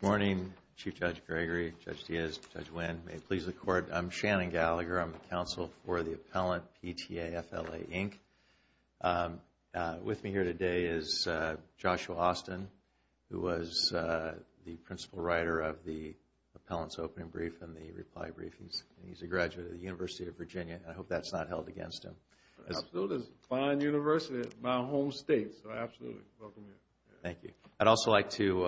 Good morning, Chief Judge Gregory, Judge Diaz, Judge Wynn. May it please the Court. I'm Shannon Gallagher. I'm the counsel for the appellant, PTA-FLA Inc. With me here today is Joshua Austin, who was the principal writer of the appellant's opening brief and the reply brief. He's a graduate of the University of Virginia, and I hope that's not held against him. Absolutely. It's a fine university in my home state, so absolutely welcome here. Thank you. I'd also like to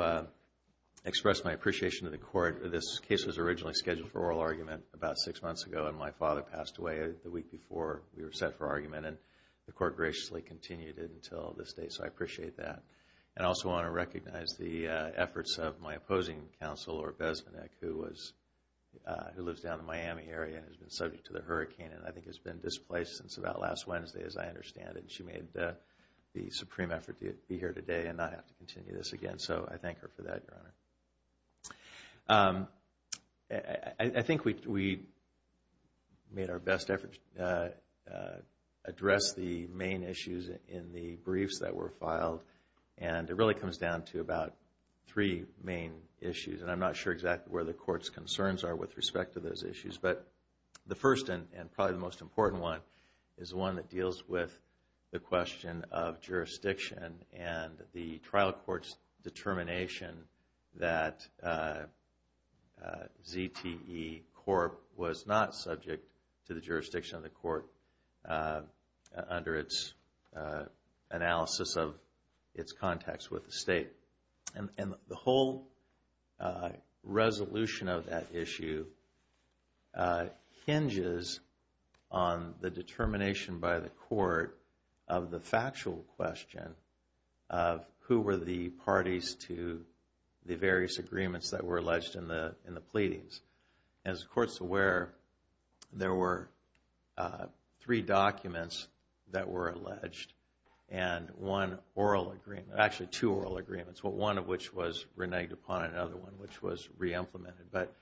express my appreciation to the Court. This case was originally scheduled for oral argument about six months ago, and my father passed away the week before we were set for argument, and the Court graciously continued it until this day, so I appreciate that. I also want to recognize the efforts of my opposing counsel, Laura Besmanek, who lives down in the Miami area and has been subject to the hurricane and I think has been displaced since about last Wednesday, as I understand it. She made the supreme effort to be here today and not have to continue this again, so I thank her for that, Your Honor. I think we made our best efforts to address the main issues in the briefs that were filed, and it really comes down to about three main issues, and I'm not sure exactly where the Court's concerns are with respect to those issues. But the first and probably the most important one is one that deals with the question of jurisdiction and the trial court's determination that ZTE Corp. was not subject to the jurisdiction of the court under its analysis of its contacts with the state. And the whole resolution of that issue hinges on the determination by the court of the factual question of who were the parties to the various agreements that were alleged in the pleadings. As the Court's aware, there were three documents that were alleged and one oral agreement, actually two oral agreements, one of which was reneged upon and another one which was re-implemented. But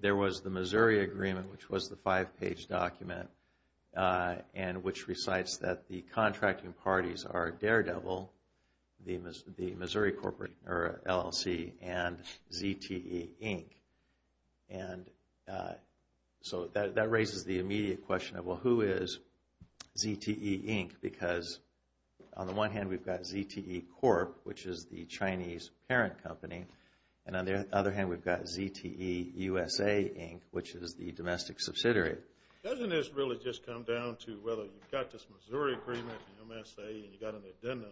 there was the Missouri Agreement, which was the five-page document, and which recites that the contracting parties are Daredevil, the Missouri LLC, and ZTE, Inc. And so that raises the immediate question of, well, who is ZTE, Inc.? Because on the one hand, we've got ZTE Corp., which is the Chinese parent company, and on the other hand, we've got ZTE USA, Inc., which is the domestic subsidiary. Doesn't this really just come down to whether you've got this Missouri Agreement, the MSA, and you've got an addendum,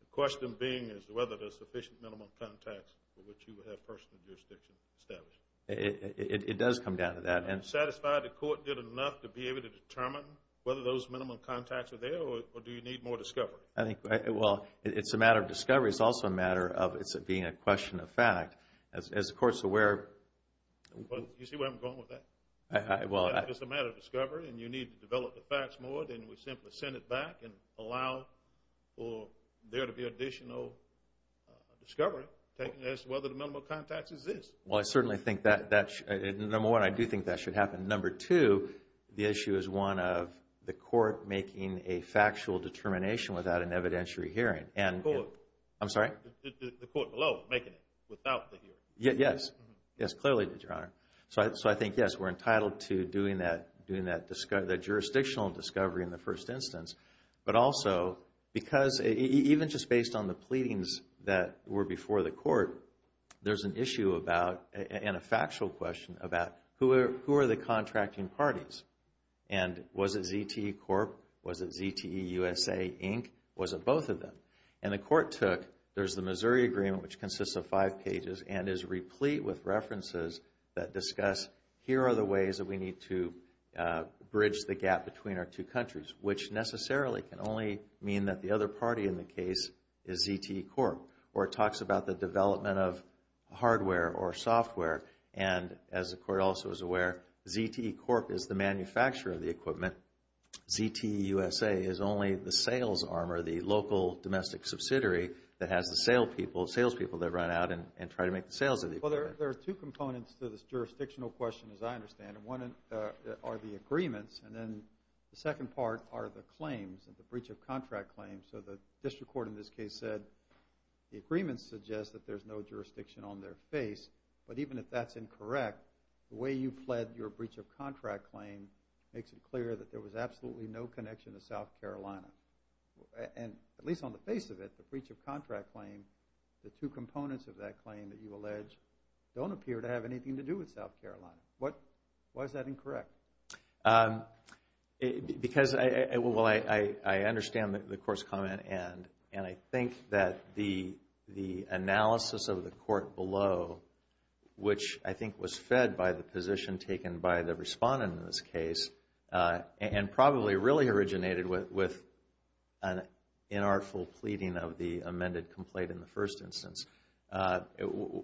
the question being is whether there's sufficient minimum contacts for which you would have personal jurisdiction established? It does come down to that. Are you satisfied the court did enough to be able to determine whether those minimum contacts are there or do you need more discovery? I think, well, it's a matter of discovery. It's also a matter of it being a question of fact. As the Court's aware... You see where I'm going with that? Well, I... It's a matter of discovery, and you need to develop the facts more than we simply send it back and allow for there to be additional discovery as to whether the minimum contacts exist. Well, I certainly think that, number one, I do think that should happen. Number two, the issue is one of the court making a factual determination without an evidentiary hearing. The court. I'm sorry? The court below making it without the hearing. Yes. Yes, clearly, Your Honor. So I think, yes, we're entitled to doing that jurisdictional discovery in the first instance. But also, because even just based on the pleadings that were before the court, there's an issue about, and a factual question about, who are the contracting parties? And was it ZTE Corp.? Was it ZTE USA, Inc.? Was it both of them? And the court took, there's the Missouri Agreement, which consists of five pages, and is replete with references that discuss, here are the ways that we need to bridge the gap between our two countries, which necessarily can only mean that the other party in the case is ZTE Corp., or it talks about the development of hardware or software. And as the court also is aware, ZTE Corp. is the manufacturer of the equipment. ZTE USA is only the sales arm or the local domestic subsidiary that has the salespeople that run out and try to make the sales of the equipment. Well, there are two components to this jurisdictional question, as I understand it. One are the agreements, and then the second part are the claims, the breach of contract claims. So the district court in this case said the agreements suggest that there's no jurisdiction on their face. But even if that's incorrect, the way you fled your breach of contract claim makes it clear that there was absolutely no connection to South Carolina. And at least on the face of it, the breach of contract claim, the two components of that claim that you allege, don't appear to have anything to do with South Carolina. Why is that incorrect? Because I understand the court's comment, and I think that the analysis of the court below, which I think was fed by the position taken by the respondent in this case, and probably really originated with an inartful pleading of the amended complaint in the first instance.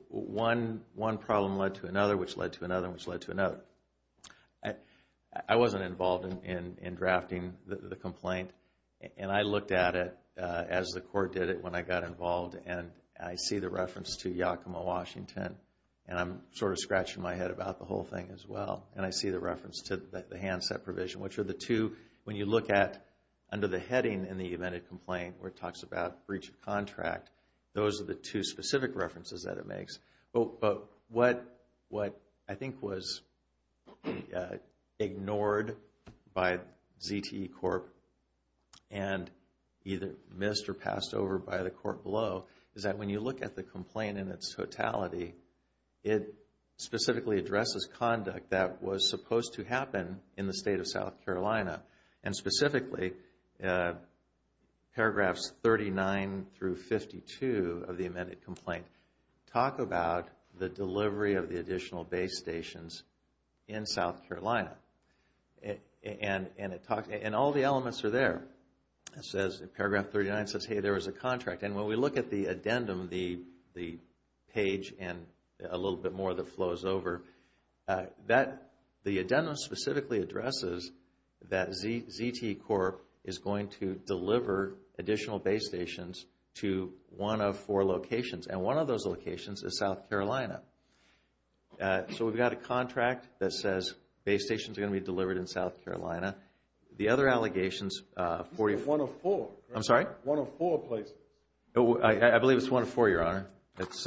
One problem led to another, which led to another, which led to another. I wasn't involved in drafting the complaint, and I looked at it as the court did it when I got involved, and I see the reference to Yakima, Washington, and I'm sort of scratching my head about the whole thing as well. And I see the reference to the handset provision, which are the two, when you look at under the heading in the amended complaint, where it talks about breach of contract, those are the two specific references that it makes. But what I think was ignored by ZTE Corp., and either missed or passed over by the court below, is that when you look at the complaint in its totality, it specifically addresses conduct that was supposed to happen in the state of South Carolina. And specifically, paragraphs 39 through 52 of the amended complaint talk about the delivery of the additional base stations in South Carolina. And all the elements are there. It says, paragraph 39 says, hey, there was a contract. And when we look at the addendum, the page and a little bit more that flows over, the addendum specifically addresses that ZTE Corp. is going to deliver additional base stations to one of four locations. And one of those locations is South Carolina. So we've got a contract that says base stations are going to be delivered in South Carolina. The other allegations for you. One of four. I'm sorry? One of four places. I believe it's one of four, Your Honor. It's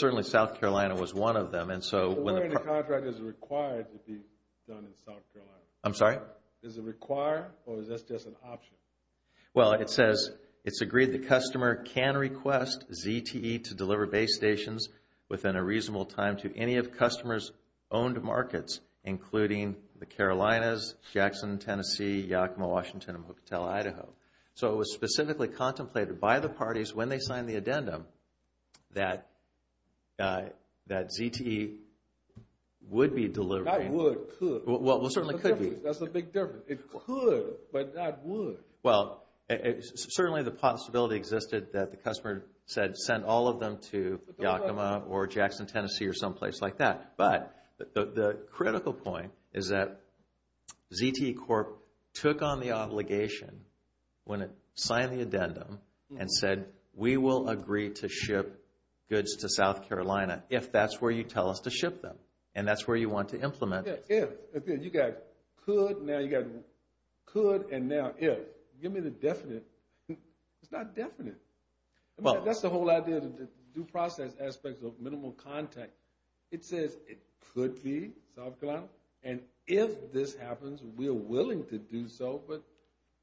certainly South Carolina was one of them. And so when the contract is required to be done in South Carolina. I'm sorry? Is it required, or is this just an option? Well, it says, it's agreed the customer can request ZTE to deliver base stations within a reasonable time to any of customers' owned markets, including the Carolinas, Jackson, Tennessee, Yakima, Washington, and Hotel Idaho. So it was specifically contemplated by the parties when they signed the addendum that ZTE would be delivering. Not would, could. Well, it certainly could be. That's the big difference. It could, but not would. Well, certainly the possibility existed that the customer sent all of them to Yakima or Jackson, Tennessee or someplace like that. But the critical point is that ZTE Corp. took on the obligation when it signed the addendum and said, we will agree to ship goods to South Carolina if that's where you tell us to ship them. And that's where you want to implement it. If. You got could, now you got could, and now if. Give me the definite. It's not definite. That's the whole idea of the due process aspect of minimal contact. It says it could be South Carolina. And if this happens, we are willing to do so. But,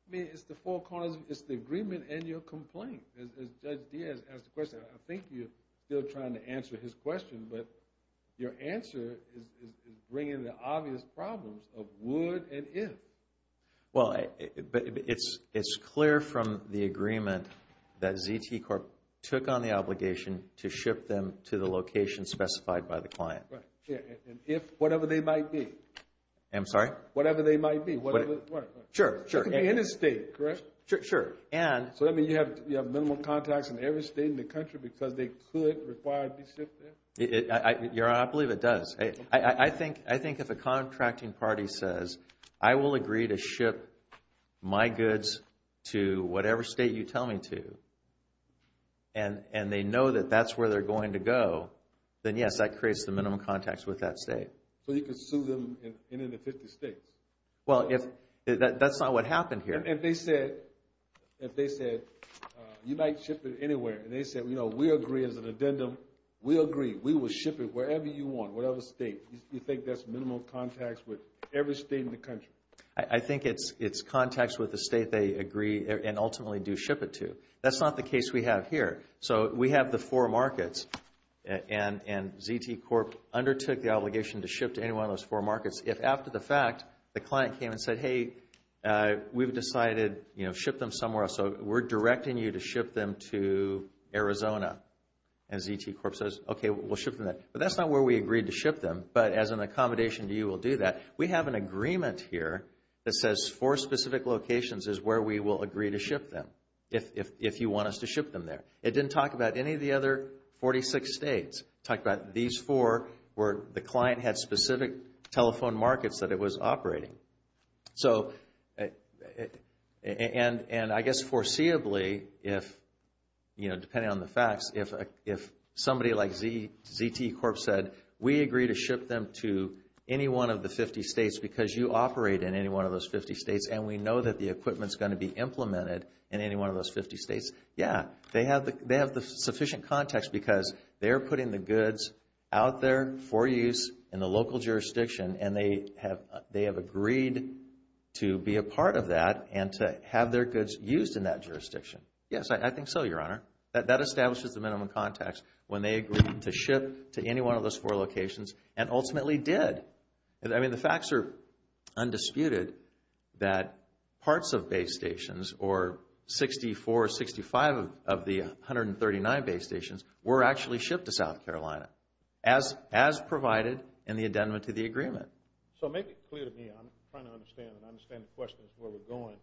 I mean, it's the four corners. It's the agreement and your complaint. As Judge Diaz asked the question, I think you're still trying to answer his question. But your answer is bringing the obvious problems of would and if. Well, it's clear from the agreement that ZTE Corp. took on the obligation to ship them to the location specified by the client. Right. And if whatever they might be. I'm sorry? Whatever they might be. Sure, sure. It could be any state, correct? Sure. And. So, I mean, you have minimal contacts in every state in the country because they could require to be shipped there? Your Honor, I believe it does. I think if a contracting party says, I will agree to ship my goods to whatever state you tell me to, and they know that that's where they're going to go, then, yes, that creates the minimum contacts with that state. So you could sue them in any of the 50 states? Well, that's not what happened here. If they said, you might ship it anywhere, and they said, you know, we agree as an addendum. We agree. We will ship it wherever you want, whatever state. You think that's minimal contacts with every state in the country? I think it's contacts with the state they agree and ultimately do ship it to. That's not the case we have here. So we have the four markets, and ZTE Corp. undertook the obligation to ship to any one of those four markets. If after the fact, the client came and said, hey, we've decided, you know, ship them somewhere else. So we're directing you to ship them to Arizona. And ZTE Corp. says, okay, we'll ship them there. But that's not where we agreed to ship them. But as an accommodation to you, we'll do that. We have an agreement here that says four specific locations is where we will agree to ship them if you want us to ship them there. It didn't talk about any of the other 46 states. It talked about these four where the client had specific telephone markets that it was operating. So, and I guess foreseeably, if, you know, depending on the facts, if somebody like ZTE Corp. said, we agree to ship them to any one of the 50 states because you operate in any one of those 50 states and we know that the equipment's going to be implemented in any one of those 50 states, yeah. They have the sufficient context because they're putting the goods out there for use in the local jurisdiction and they have agreed to be a part of that and to have their goods used in that jurisdiction. Yes, I think so, Your Honor. That establishes the minimum context when they agreed to ship to any one of those four locations and ultimately did. I mean, the facts are undisputed that parts of base stations or 64, 65 of the 139 base stations were actually shipped to South Carolina as provided in the addendum to the agreement. So, make it clear to me. I'm trying to understand and understand the questions where we're going.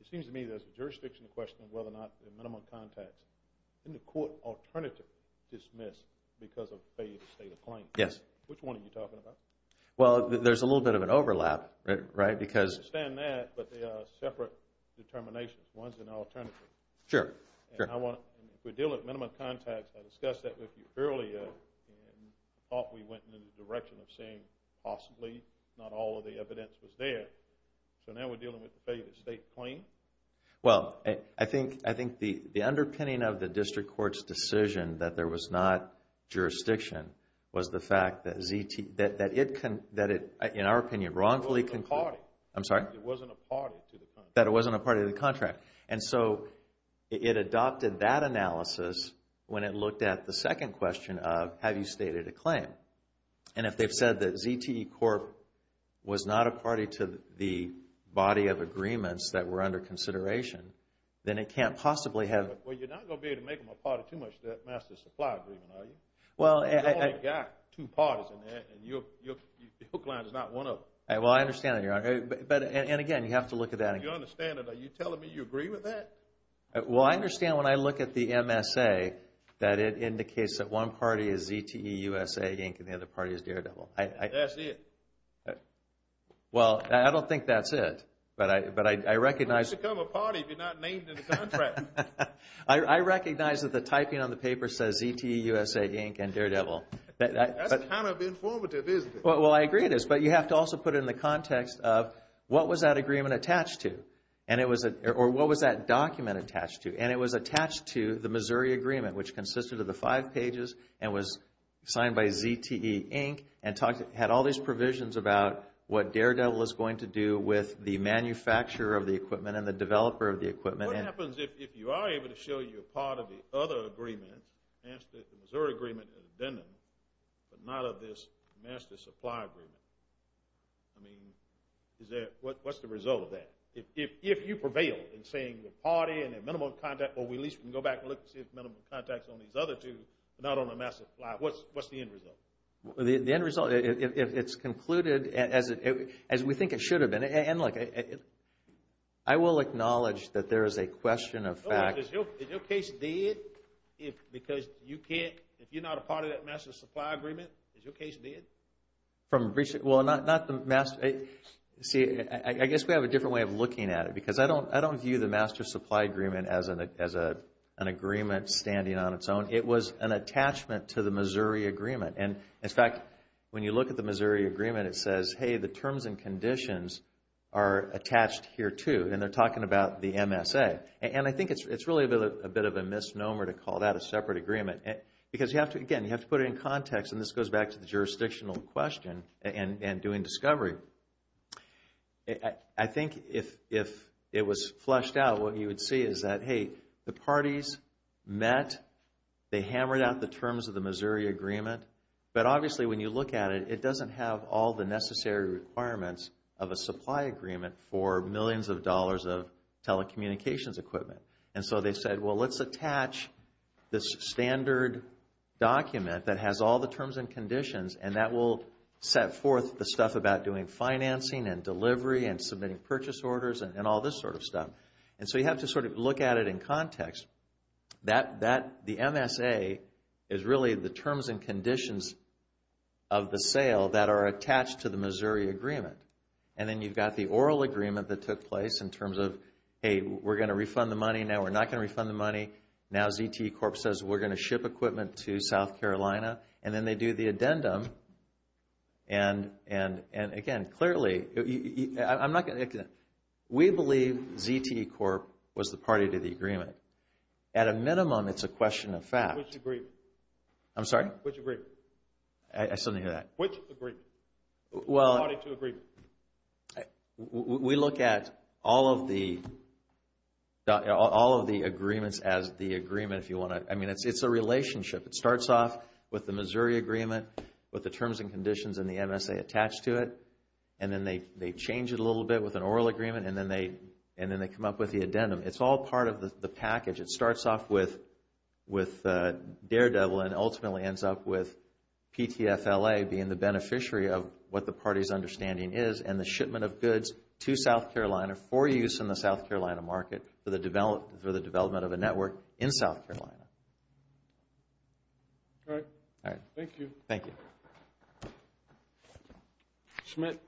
It seems to me there's a jurisdiction question of whether or not the minimum context and the court alternative dismissed because of failed state of claim. Yes. Which one are you talking about? Well, there's a little bit of an overlap, right, because… I understand that, but they are separate determinations. One's an alternative. Sure, sure. If we're dealing with minimum context, I discussed that with you earlier and I thought we went in the direction of saying possibly not all of the evidence was there. So, now we're dealing with the failed state claim? Well, I think the underpinning of the district court's decision that there was not jurisdiction was the fact that it, in our opinion, wrongfully concluded… It wasn't a party. I'm sorry? It wasn't a party to the contract. That it wasn't a party to the contract. And so, it adopted that analysis when it looked at the second question of, have you stated a claim? And if they've said that ZTE Corp. was not a party to the body of agreements that were under consideration, then it can't possibly have… Well, you're not going to be able to make them a party too much to that master supply agreement, are you? Well, I… You've only got two parties in there and your hook line is not one of them. Well, I understand that, Your Honor. And again, you have to look at that again. I don't think you understand it. Are you telling me you agree with that? Well, I understand when I look at the MSA that it indicates that one party is ZTE USA, Inc. and the other party is Daredevil. That's it? Well, I don't think that's it. But I recognize… How do you become a party if you're not named in the contract? I recognize that the typing on the paper says ZTE USA, Inc. and Daredevil. That's kind of informative, isn't it? Well, I agree with this. But you have to also put it in the context of what was that agreement attached to or what was that document attached to. And it was attached to the Missouri Agreement, which consisted of the five pages and was signed by ZTE, Inc. and had all these provisions about what Daredevil is going to do with the manufacturer of the equipment and the developer of the equipment. What happens if you are able to show your part of the other agreement, the Missouri Agreement and the Denon, but not of this master supply agreement? I mean, what's the result of that? If you prevail in saying the party and their minimum of contact, or we at least can go back and look to see if minimum of contact is on these other two, but not on the master supply, what's the end result? The end result, it's concluded as we think it should have been. And look, I will acknowledge that there is a question of fact. Is your case dead? Because if you're not a part of that master supply agreement, is your case dead? Well, not the master. See, I guess we have a different way of looking at it because I don't view the master supply agreement as an agreement standing on its own. It was an attachment to the Missouri Agreement. And, in fact, when you look at the Missouri Agreement, it says, hey, the terms and conditions are attached here too. And they're talking about the MSA. And I think it's really a bit of a misnomer to call that a separate agreement. Because, again, you have to put it in context, and this goes back to the jurisdictional question and doing discovery. I think if it was fleshed out, what you would see is that, hey, the parties met. They hammered out the terms of the Missouri Agreement. But, obviously, when you look at it, it doesn't have all the necessary requirements of a supply agreement for millions of dollars of telecommunications equipment. And so they said, well, let's attach this standard document that has all the terms and conditions, and that will set forth the stuff about doing financing and delivery and submitting purchase orders and all this sort of stuff. And so you have to sort of look at it in context. The MSA is really the terms and conditions of the sale that are attached to the Missouri Agreement. And then you've got the oral agreement that took place in terms of, hey, we're going to refund the money. Now we're not going to refund the money. Now ZTE Corp. says we're going to ship equipment to South Carolina. And then they do the addendum. And, again, clearly, we believe ZTE Corp. was the party to the agreement. At a minimum, it's a question of fact. Which agreement? I'm sorry? Which agreement? I still didn't hear that. Which agreement? The party to agreement. We look at all of the agreements as the agreement, if you want to. I mean, it's a relationship. It starts off with the Missouri Agreement, with the terms and conditions and the MSA attached to it, and then they change it a little bit with an oral agreement, and then they come up with the addendum. It's all part of the package. It starts off with Daredevil and ultimately ends up with PTFLA being the beneficiary of what the party's understanding is and the shipment of goods to South Carolina for use in the South Carolina market for the development of a network in South Carolina. All right. Thank you. Thank you. Schmidt.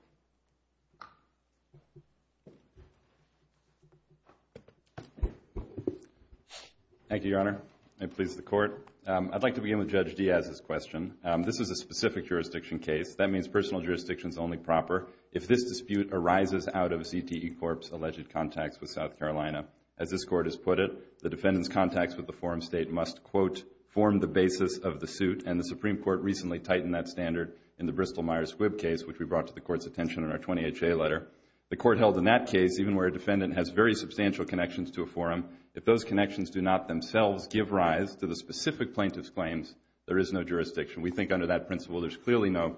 Thank you, Your Honor. May it please the Court. I'd like to begin with Judge Diaz's question. This is a specific jurisdiction case. That means personal jurisdiction is only proper if this dispute arises out of ZTE Corp.'s alleged contacts with South Carolina. As this Court has put it, the defendant's contacts with the forum state must, quote, form the basis of the suit, and the Supreme Court recently tightened that standard in the Bristol Myers-Wibb case, which we brought to the Court's attention in our 20HA letter. The Court held in that case, even where a defendant has very substantial connections to a forum, if those connections do not themselves give rise to the specific plaintiff's claims, there is no jurisdiction. We think under that principle there's clearly no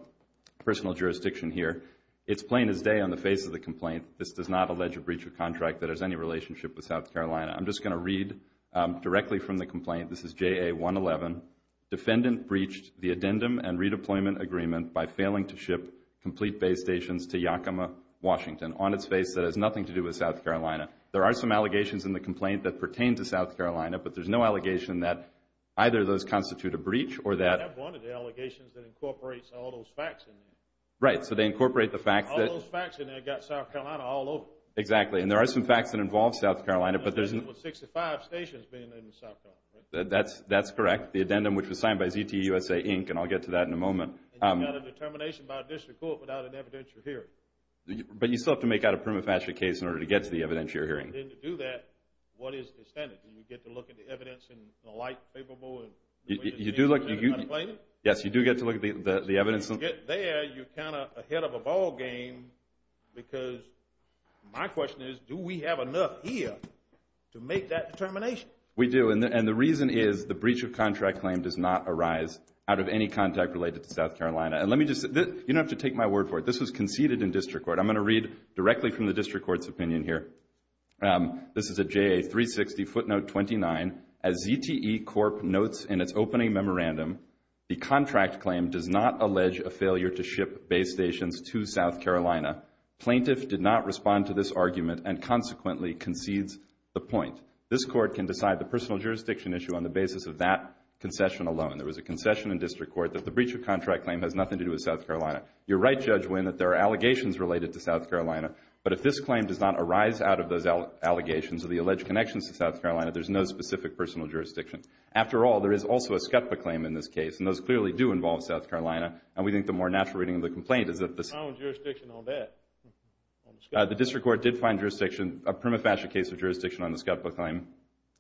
personal jurisdiction here. It's plain as day on the face of the complaint, this does not allege a breach of contract that has any relationship with South Carolina. I'm just going to read directly from the complaint. This is JA111. Defendant breached the addendum and redeployment agreement by failing to ship complete base stations to Yakima, Washington, on its face that has nothing to do with South Carolina. There are some allegations in the complaint that pertain to South Carolina, but there's no allegation that either of those constitute a breach or that... I have one of the allegations that incorporates all those facts in there. Right, so they incorporate the fact that... All those facts in there got South Carolina all over. Exactly, and there are some facts that involve South Carolina, but there's... 65 stations being in South Carolina. That's correct. The addendum, which was signed by ZTUSA, Inc., and I'll get to that in a moment. And you've got a determination by a district court without an evidentiary hearing. But you still have to make out a prima facie case in order to get to the evidentiary hearing. And to do that, what is the standard? Do you get to look at the evidence in a light favorable? Yes, you do get to look at the evidence. When you get there, you're kind of ahead of a ballgame because my question is, do we have enough here to make that determination? We do, and the reason is the breach of contract claim does not arise out of any contact related to South Carolina. You don't have to take my word for it. This was conceded in district court. I'm going to read directly from the district court's opinion here. This is a JA 360 footnote 29. As ZTE Corp. notes in its opening memorandum, the contract claim does not allege a failure to ship base stations to South Carolina. Plaintiff did not respond to this argument and consequently concedes the point. This court can decide the personal jurisdiction issue on the basis of that concession alone. There was a concession in district court that the breach of contract claim has nothing to do with South Carolina. You're right, Judge Winn, that there are allegations related to South Carolina. But if this claim does not arise out of those allegations or the alleged connections to South Carolina, there's no specific personal jurisdiction. After all, there is also a SCOTPA claim in this case, and those clearly do involve South Carolina, and we think the more natural reading of the complaint is that the SCOTPA claim. We found jurisdiction on that. The district court did find jurisdiction, a prima facie case of jurisdiction on the SCOTPA claim.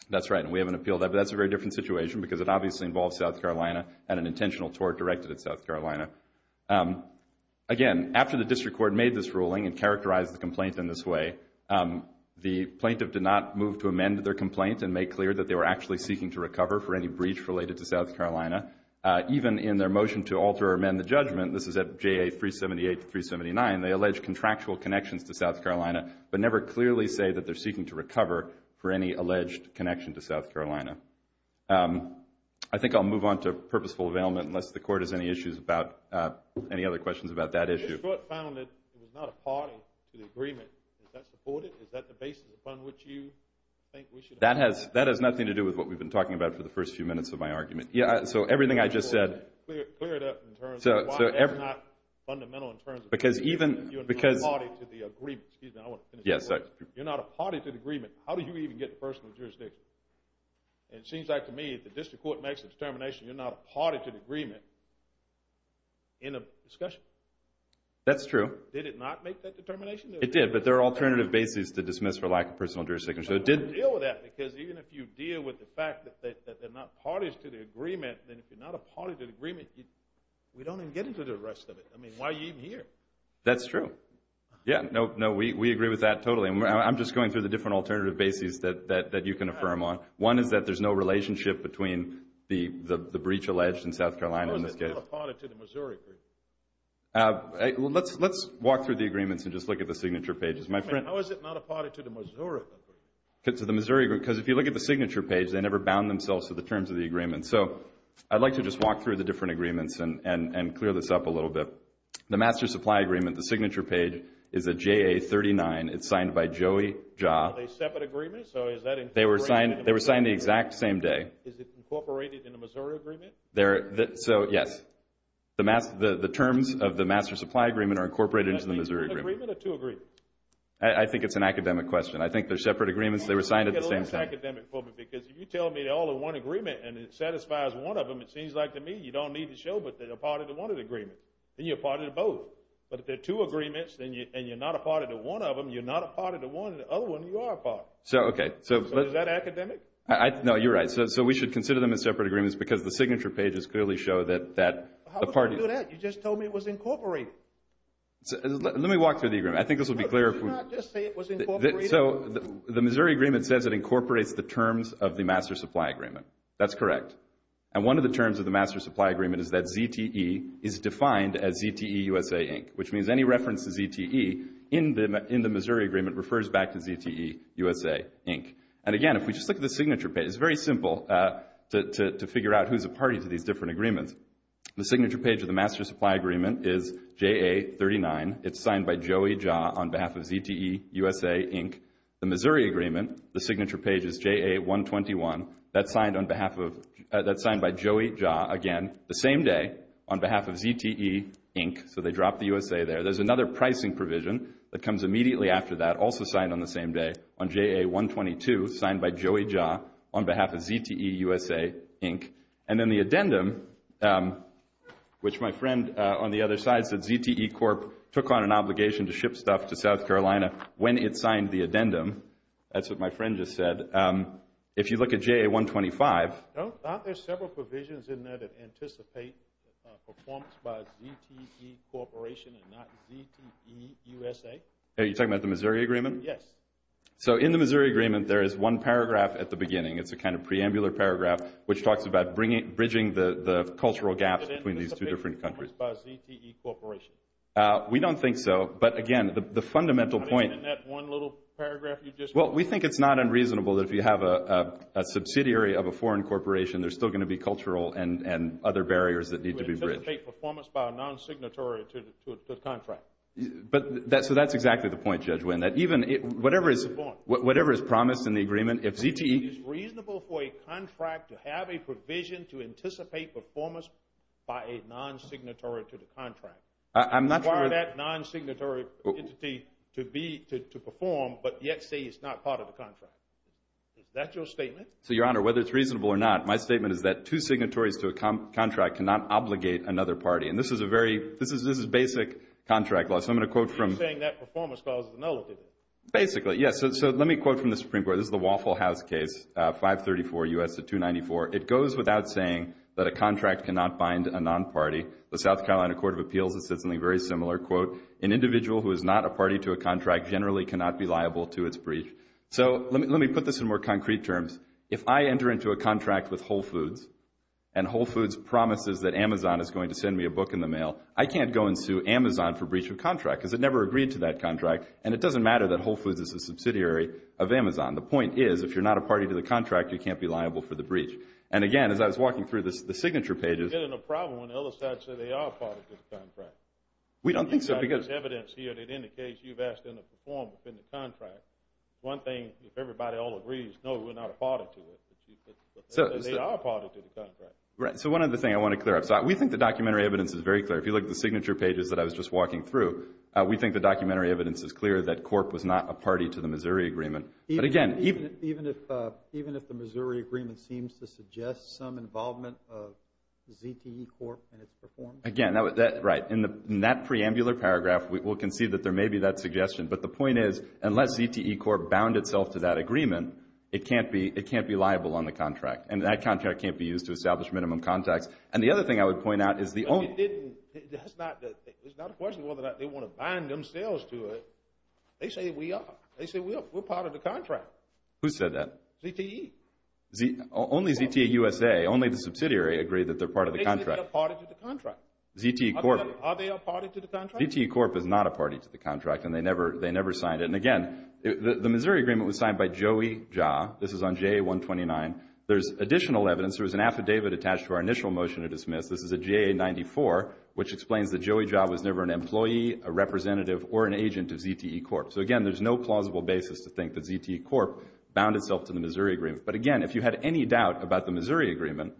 That's right, and we haven't appealed that, but that's a very different situation because it obviously involves South Carolina and an intentional tort directed at South Carolina. Again, after the district court made this ruling and characterized the complaint in this way, the plaintiff did not move to amend their complaint and make clear that they were actually seeking to recover for any breach related to South Carolina. Even in their motion to alter or amend the judgment, this is at JA 378 to 379, they allege contractual connections to South Carolina but never clearly say that they're seeking to recover for any alleged connection to South Carolina. I think I'll move on to purposeful availment unless the court has any other questions about that issue. The district court found that it was not a party to the agreement. Is that supported? Is that the basis upon which you think we should— That has nothing to do with what we've been talking about for the first few minutes of my argument. So everything I just said— Clear it up in terms of why that's not fundamental in terms of— Because even— You're not a party to the agreement. You're not a party to the agreement. How do you even get personal jurisdiction? And it seems like to me if the district court makes a determination you're not a party to the agreement in a discussion. That's true. Did it not make that determination? It did, but there are alternative bases to dismiss for lack of personal jurisdiction. But how do you deal with that? Because even if you deal with the fact that they're not parties to the agreement, then if you're not a party to the agreement, we don't even get into the rest of it. I mean, why are you even here? That's true. Yeah, no, we agree with that totally. I'm just going through the different alternative bases that you can affirm on. One is that there's no relationship between the breach alleged in South Carolina in this case. How is it not a party to the Missouri agreement? Let's walk through the agreements and just look at the signature pages. How is it not a party to the Missouri agreement? Because if you look at the signature page, they never bound themselves to the terms of the agreement. So I'd like to just walk through the different agreements and clear this up a little bit. The master supply agreement, the signature page is a JA39. It's signed by Joey Jha. Are they separate agreements? They were signed the exact same day. Is it incorporated in the Missouri agreement? So, yes. The terms of the master supply agreement are incorporated into the Missouri agreement. Is that a single agreement or two agreements? I think it's an academic question. I think they're separate agreements. They were signed at the same time. I think it's less academic for me because if you tell me they're all in one agreement and it satisfies one of them, it seems like to me you don't need to show but they're a party to one of the agreements. Then you're a party to both. But if they're two agreements and you're not a party to one of them, you're not a party to one of the other ones, you are a party. So, okay. So is that academic? No, you're right. So we should consider them as separate agreements because the signature pages clearly show that the parties. How did you do that? You just told me it was incorporated. Let me walk through the agreement. I think this will be clear. No, did you not just say it was incorporated? So the Missouri agreement says it incorporates the terms of the master supply agreement. That's correct. And one of the terms of the master supply agreement is that ZTE is defined as ZTE USA, Inc., which means any reference to ZTE in the Missouri agreement refers back to ZTE USA, Inc. And, again, if we just look at the signature page, it's very simple to figure out who's a party to these different agreements. The signature page of the master supply agreement is JA39. It's signed by Joey Jha on behalf of ZTE USA, Inc. The Missouri agreement, the signature page is JA121. That's signed by Joey Jha, again, the same day, on behalf of ZTE, Inc. So they dropped the USA there. There's another pricing provision that comes immediately after that, also signed on the same day, on JA122, signed by Joey Jha on behalf of ZTE USA, Inc. And then the addendum, which my friend on the other side said ZTE Corp. took on an obligation to ship stuff to South Carolina when it signed the addendum. That's what my friend just said. And then if you look at JA125. I thought there were several provisions in there that anticipate performance by ZTE Corporation and not ZTE USA. Are you talking about the Missouri agreement? Yes. So in the Missouri agreement, there is one paragraph at the beginning. It's a kind of preambular paragraph which talks about bridging the cultural gaps between these two different countries. Does it anticipate performance by ZTE Corporation? We don't think so. But, again, the fundamental point. Isn't it that one little paragraph you just read? Well, we think it's not unreasonable that if you have a subsidiary of a foreign corporation, there's still going to be cultural and other barriers that need to be bridged. To anticipate performance by a non-signatory entity to a contract. So that's exactly the point, Judge Winn. Whatever is promised in the agreement, if ZTE… It is reasonable for a contract to have a provision to anticipate performance by a non-signatory to the contract. I'm not sure… Require that non-signatory entity to perform but yet say it's not part of the contract. Is that your statement? So, Your Honor, whether it's reasonable or not, my statement is that two signatories to a contract cannot obligate another party. And this is basic contract law. So I'm going to quote from… You're saying that performance causes nullity. Basically, yes. So let me quote from the Supreme Court. This is the Waffle House case, 534 U.S. 294. It goes without saying that a contract cannot bind a non-party. The South Carolina Court of Appeals has said something very similar. Quote, an individual who is not a party to a contract generally cannot be liable to its breach. So let me put this in more concrete terms. If I enter into a contract with Whole Foods and Whole Foods promises that Amazon is going to send me a book in the mail, I can't go and sue Amazon for breach of contract because it never agreed to that contract. And it doesn't matter that Whole Foods is a subsidiary of Amazon. The point is if you're not a party to the contract, you can't be liable for the breach. And, again, as I was walking through the signature pages… We're not getting a problem when the other side says they are a party to the contract. We don't think so because… You've got this evidence here that indicates you've asked them to perform within the contract. One thing, if everybody all agrees, no, we're not a party to it. But they are a party to the contract. Right. So one other thing I want to clear up. So we think the documentary evidence is very clear. If you look at the signature pages that I was just walking through, we think the documentary evidence is clear that Corp was not a party to the Missouri Agreement. Even if the Missouri Agreement seems to suggest some involvement of ZTE Corp in its performance? Again, right. In that preambular paragraph, we'll concede that there may be that suggestion. But the point is unless ZTE Corp bound itself to that agreement, it can't be liable on the contract. And that contract can't be used to establish minimum contracts. And the other thing I would point out is the only… It's not a question whether or not they want to bind themselves to it. They say we are. We're part of the contract. Who said that? ZTE. Only ZTE USA. Only the subsidiary agreed that they're part of the contract. They say they're a party to the contract. ZTE Corp. Are they a party to the contract? ZTE Corp is not a party to the contract, and they never signed it. And, again, the Missouri Agreement was signed by Joey Jha. This is on JA-129. There's additional evidence. There was an affidavit attached to our initial motion to dismiss. This is a JA-94, which explains that Joey Jha was never an employee, a representative, or an agent of ZTE Corp. So, again, there's no plausible basis to think that ZTE Corp. bound itself to the Missouri Agreement. But, again, if you had any doubt about the Missouri Agreement,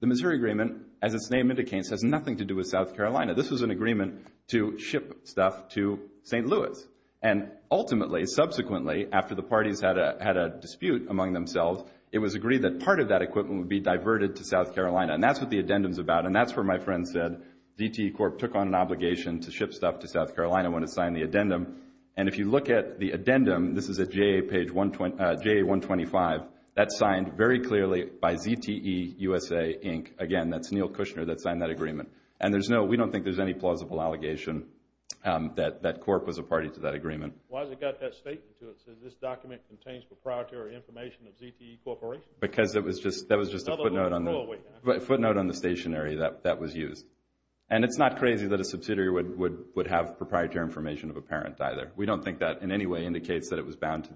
the Missouri Agreement, as its name indicates, has nothing to do with South Carolina. This was an agreement to ship stuff to St. Louis. And, ultimately, subsequently, after the parties had a dispute among themselves, it was agreed that part of that equipment would be diverted to South Carolina. And that's what the addendum's about. And that's where my friend said ZTE Corp. took on an obligation to ship stuff to South Carolina when it signed the addendum. And if you look at the addendum, this is at JA-125. That's signed very clearly by ZTE USA, Inc. Again, that's Neil Kushner that signed that agreement. And we don't think there's any plausible allegation that Corp. was a party to that agreement. Why has it got that statement to it that says this document contains proprietary information of ZTE Corporation? Because that was just a footnote on the stationery that was used. And it's not crazy that a subsidiary would have proprietary information of a parent either. We don't think that in any way indicates that it was bound to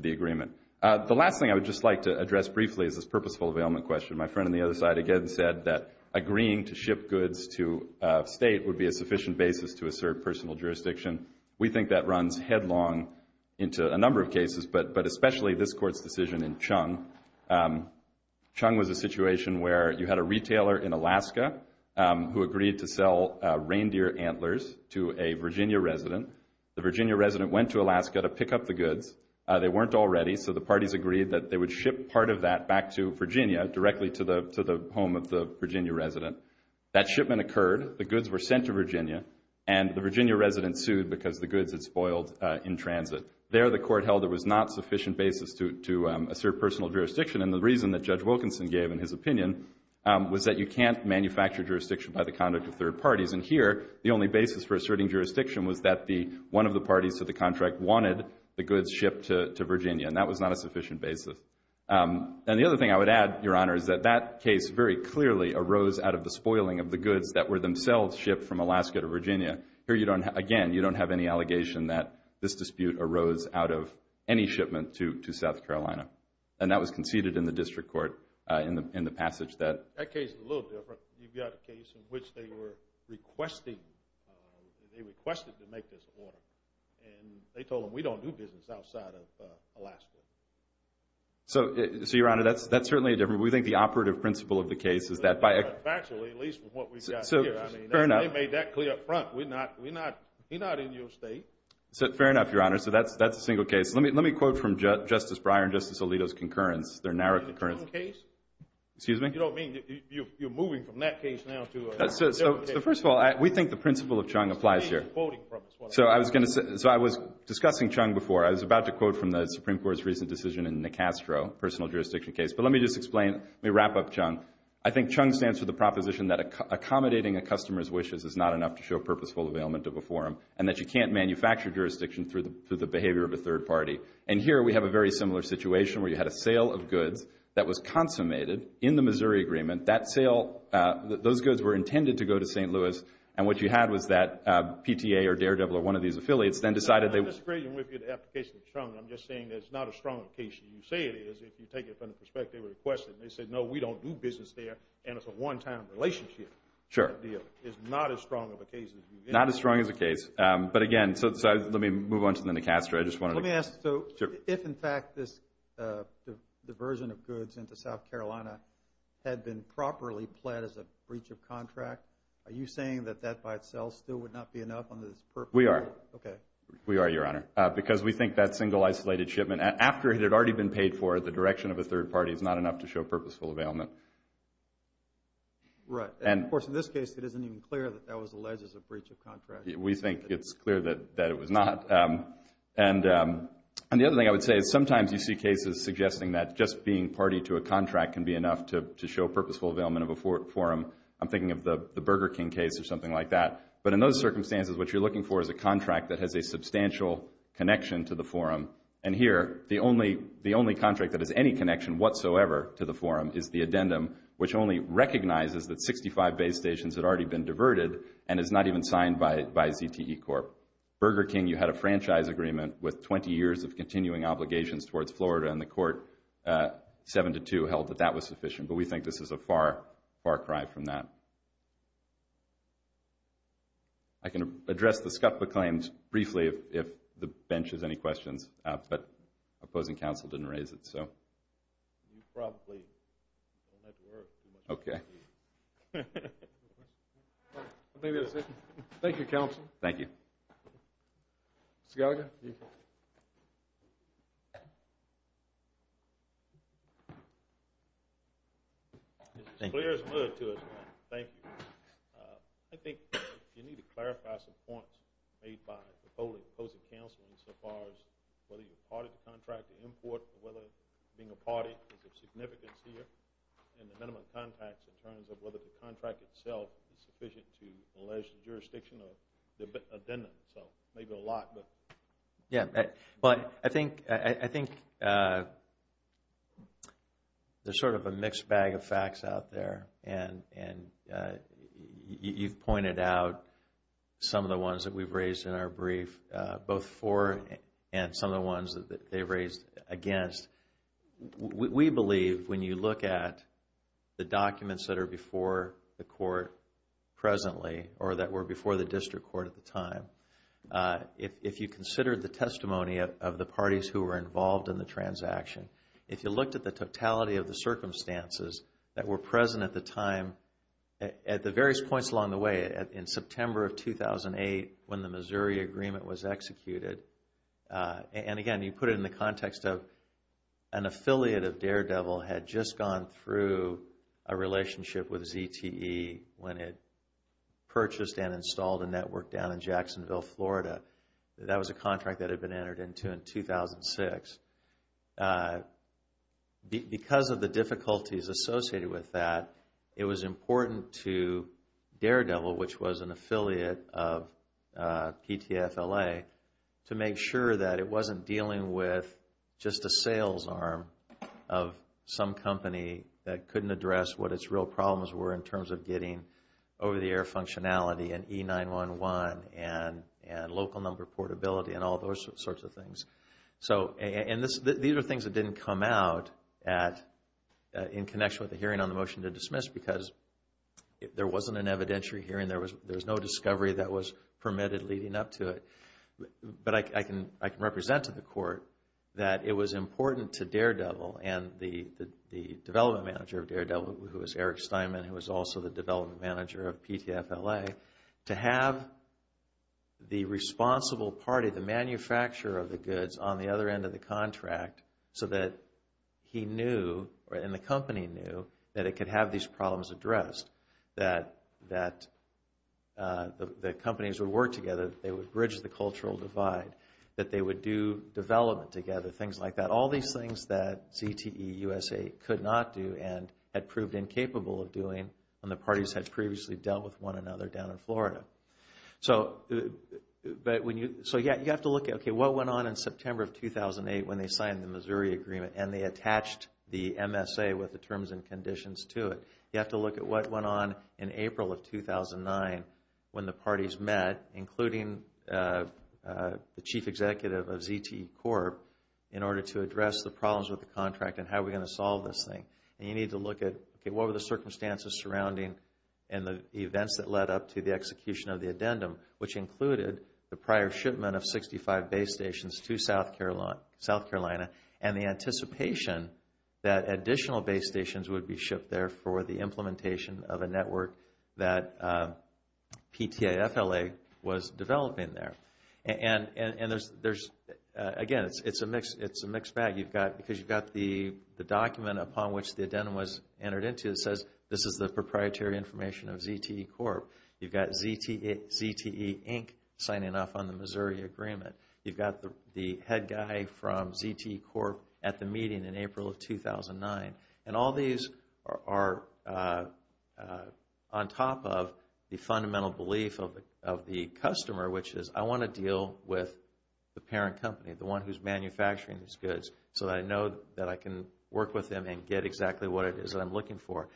the agreement. The last thing I would just like to address briefly is this purposeful availment question. My friend on the other side again said that agreeing to ship goods to a state would be a sufficient basis to assert personal jurisdiction. We think that runs headlong into a number of cases, but especially this Court's decision in Chung. Chung was a situation where you had a retailer in Alaska who agreed to sell reindeer antlers to a Virginia resident. The Virginia resident went to Alaska to pick up the goods. They weren't all ready, so the parties agreed that they would ship part of that back to Virginia, directly to the home of the Virginia resident. That shipment occurred. The goods were sent to Virginia, and the Virginia resident sued because the goods had spoiled in transit. There the Court held there was not sufficient basis to assert personal jurisdiction, and the reason that Judge Wilkinson gave in his opinion was that you can't manufacture jurisdiction by the conduct of third parties. And here the only basis for asserting jurisdiction was that one of the parties to the contract wanted the goods shipped to Virginia, and that was not a sufficient basis. And the other thing I would add, Your Honor, is that that case very clearly arose out of the spoiling of the goods that were themselves shipped from Alaska to Virginia. Here, again, you don't have any allegation that this dispute arose out of any shipment to South Carolina, and that was conceded in the district court in the passage that. That case is a little different. You've got a case in which they were requesting, they requested to make this order, and they told them we don't do business outside of Alaska. So, Your Honor, that's certainly different. He's not in your state. Fair enough, Your Honor. So that's a single case. Let me quote from Justice Breyer and Justice Alito's concurrence, their narrow concurrence. In the Chung case? Excuse me? You don't mean you're moving from that case now to another case? First of all, we think the principle of Chung applies here. So I was discussing Chung before. I was about to quote from the Supreme Court's recent decision in the Castro personal jurisdiction case. But let me just explain. Let me wrap up Chung. I think Chung stands for the proposition that accommodating a customer's wishes is not enough to show purposeful availment of a forum and that you can't manufacture jurisdiction through the behavior of a third party. And here we have a very similar situation where you had a sale of goods that was consummated in the Missouri agreement. That sale, those goods were intended to go to St. Louis, and what you had was that PTA or Daredevil or one of these affiliates then decided they would I'm disagreeing with you in the application of Chung. I'm just saying that it's not a strong case. You say it is if you take it from the perspective of the question. They said, no, we don't do business there, and it's a one-time relationship. Sure. It's not as strong of a case as you get. Not as strong as a case. But, again, so let me move on to the Castro. Let me ask. So if, in fact, this diversion of goods into South Carolina had been properly planned as a breach of contract, are you saying that that by itself still would not be enough under this purpose? We are. Okay. We are, Your Honor, because we think that single isolated shipment, after it had already been paid for, the direction of a third party is not enough to show purposeful availment. Right. And, of course, in this case, it isn't even clear that that was alleged as a breach of contract. We think it's clear that it was not. And the other thing I would say is sometimes you see cases suggesting that just being party to a contract can be enough to show purposeful availment of a forum. I'm thinking of the Burger King case or something like that. But in those circumstances, what you're looking for is a contract that has a substantial connection to the forum. And here, the only contract that has any connection whatsoever to the forum is the addendum, which only recognizes that 65 base stations had already been diverted and is not even signed by ZTE Corp. Burger King, you had a franchise agreement with 20 years of continuing obligations towards Florida, and the Court 7-2 held that that was sufficient. But we think this is a far, far cry from that. I can address the SCPPA claims briefly if the bench has any questions. But opposing counsel didn't raise it, so. You probably don't have to worry too much. Okay. I think that's it. Thank you, counsel. Thank you. Mr. Gallagher. Thank you. It's as clear as mud to us all. Thank you. I think you need to clarify some points made by the opposing counsel insofar as whether you're a party to the contract, the import, or whether being a party is of significance here, and the minimum contracts in terms of whether the contract itself is sufficient to allege the jurisdiction of the addendum. So maybe a lot, but. Yeah. But I think there's sort of a mixed bag of facts out there, and you've pointed out some of the ones that we've raised in our brief, both for and some of the ones that they've raised against. We believe when you look at the documents that are before the court presently, or that were before the district court at the time, if you consider the testimony of the parties who were involved in the transaction, if you looked at the totality of the circumstances that were present at the time at the various points along the way, in September of 2008 when the Missouri Agreement was executed, and again, you put it in the context of an affiliate of Daredevil had just gone through a relationship with ZTE when it purchased and installed a network down in Jacksonville, Florida. That was a contract that had been entered into in 2006. Because of the difficulties associated with that, it was important to Daredevil, which was an affiliate of PTFLA, to make sure that it wasn't dealing with just a sales arm of some company that couldn't address what its real problems were in terms of getting over-the-air functionality and E911 and local number portability and all those sorts of things. And these are things that didn't come out in connection with the hearing on the motion to dismiss because there wasn't an evidentiary hearing, there was no discovery that was permitted leading up to it. But I can represent to the court that it was important to Daredevil and the development manager of Daredevil, who was Eric Steinman, who was also the development manager of PTFLA, to have the responsible party, the manufacturer of the goods, on the other end of the contract so that he knew and the company knew that it could have these problems addressed, that the companies would work together, they would bridge the cultural divide, that they would do development together, things like that. All these things that ZTE USA could not do and had proved incapable of doing when the parties had previously dealt with one another down in Florida. So you have to look at what went on in September of 2008 when they signed the Missouri Agreement and they attached the MSA with the terms and conditions to it. You have to look at what went on in April of 2009 when the parties met, including the chief executive of ZTE Corp, in order to address the problems with the contract and how are we going to solve this thing. And you need to look at what were the circumstances surrounding and the events that led up to the execution of the addendum, which included the prior shipment of 65 base stations to South Carolina and the anticipation that additional base stations would be shipped there for the implementation of a network that PTFLA was developing there. Again, it's a mixed bag. Because you've got the document upon which the addendum was entered into, it says this is the proprietary information of ZTE Corp. You've got ZTE Inc. signing off on the Missouri Agreement. You've got the head guy from ZTE Corp. at the meeting in April of 2009. And all these are on top of the fundamental belief of the customer, which is I want to deal with the parent company, the one who's manufacturing these goods, so that I know that I can work with them and get exactly what it is that I'm looking for.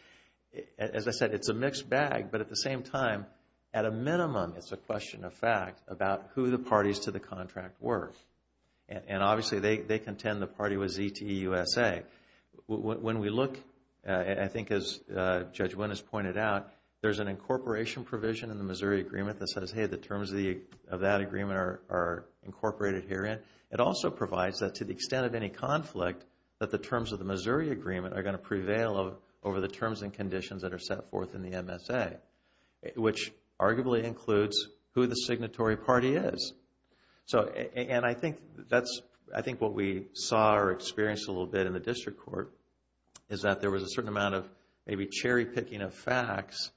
As I said, it's a mixed bag, but at the same time, at a minimum, it's a question of fact about who the parties to the contract were. And obviously, they contend the party was ZTE USA. When we look, I think as Judge Winn has pointed out, there's an incorporation provision in the Missouri Agreement that says, hey, the terms of that agreement are incorporated herein. It also provides that to the extent of any conflict, that the terms of the Missouri Agreement are going to prevail over the terms and conditions that are set forth in the MSA, which arguably includes who the signatory party is. And I think what we saw or experienced a little bit in the District Court is that there was a certain amount of maybe cherry-picking of facts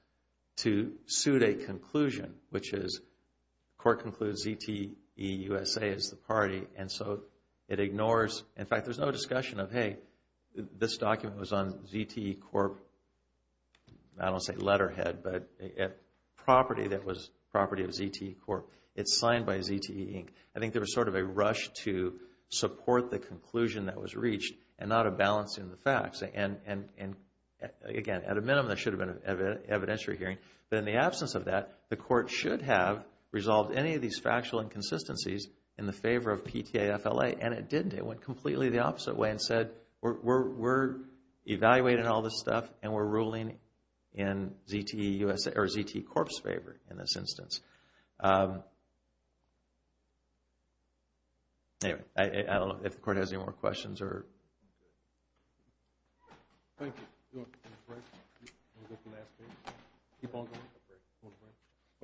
to suit a conclusion, which is court concludes ZTE USA is the party, and so it ignores, in fact, there's no discussion of, hey, this document was on ZTE Corp, I don't want to say letterhead, but property that was property of ZTE Corp. It's signed by ZTE Inc. I think there was sort of a rush to support the conclusion that was reached and not a balance in the facts. And again, at a minimum, there should have been an evidentiary hearing. But in the absence of that, the court should have resolved any of these factual inconsistencies in the favor of PTA-FLA, and it didn't. It went completely the opposite way and said, we're evaluating all this stuff and we're ruling in ZTE Corp's favor in this instance. Anyway, I don't know if the court has any more questions. Thank you.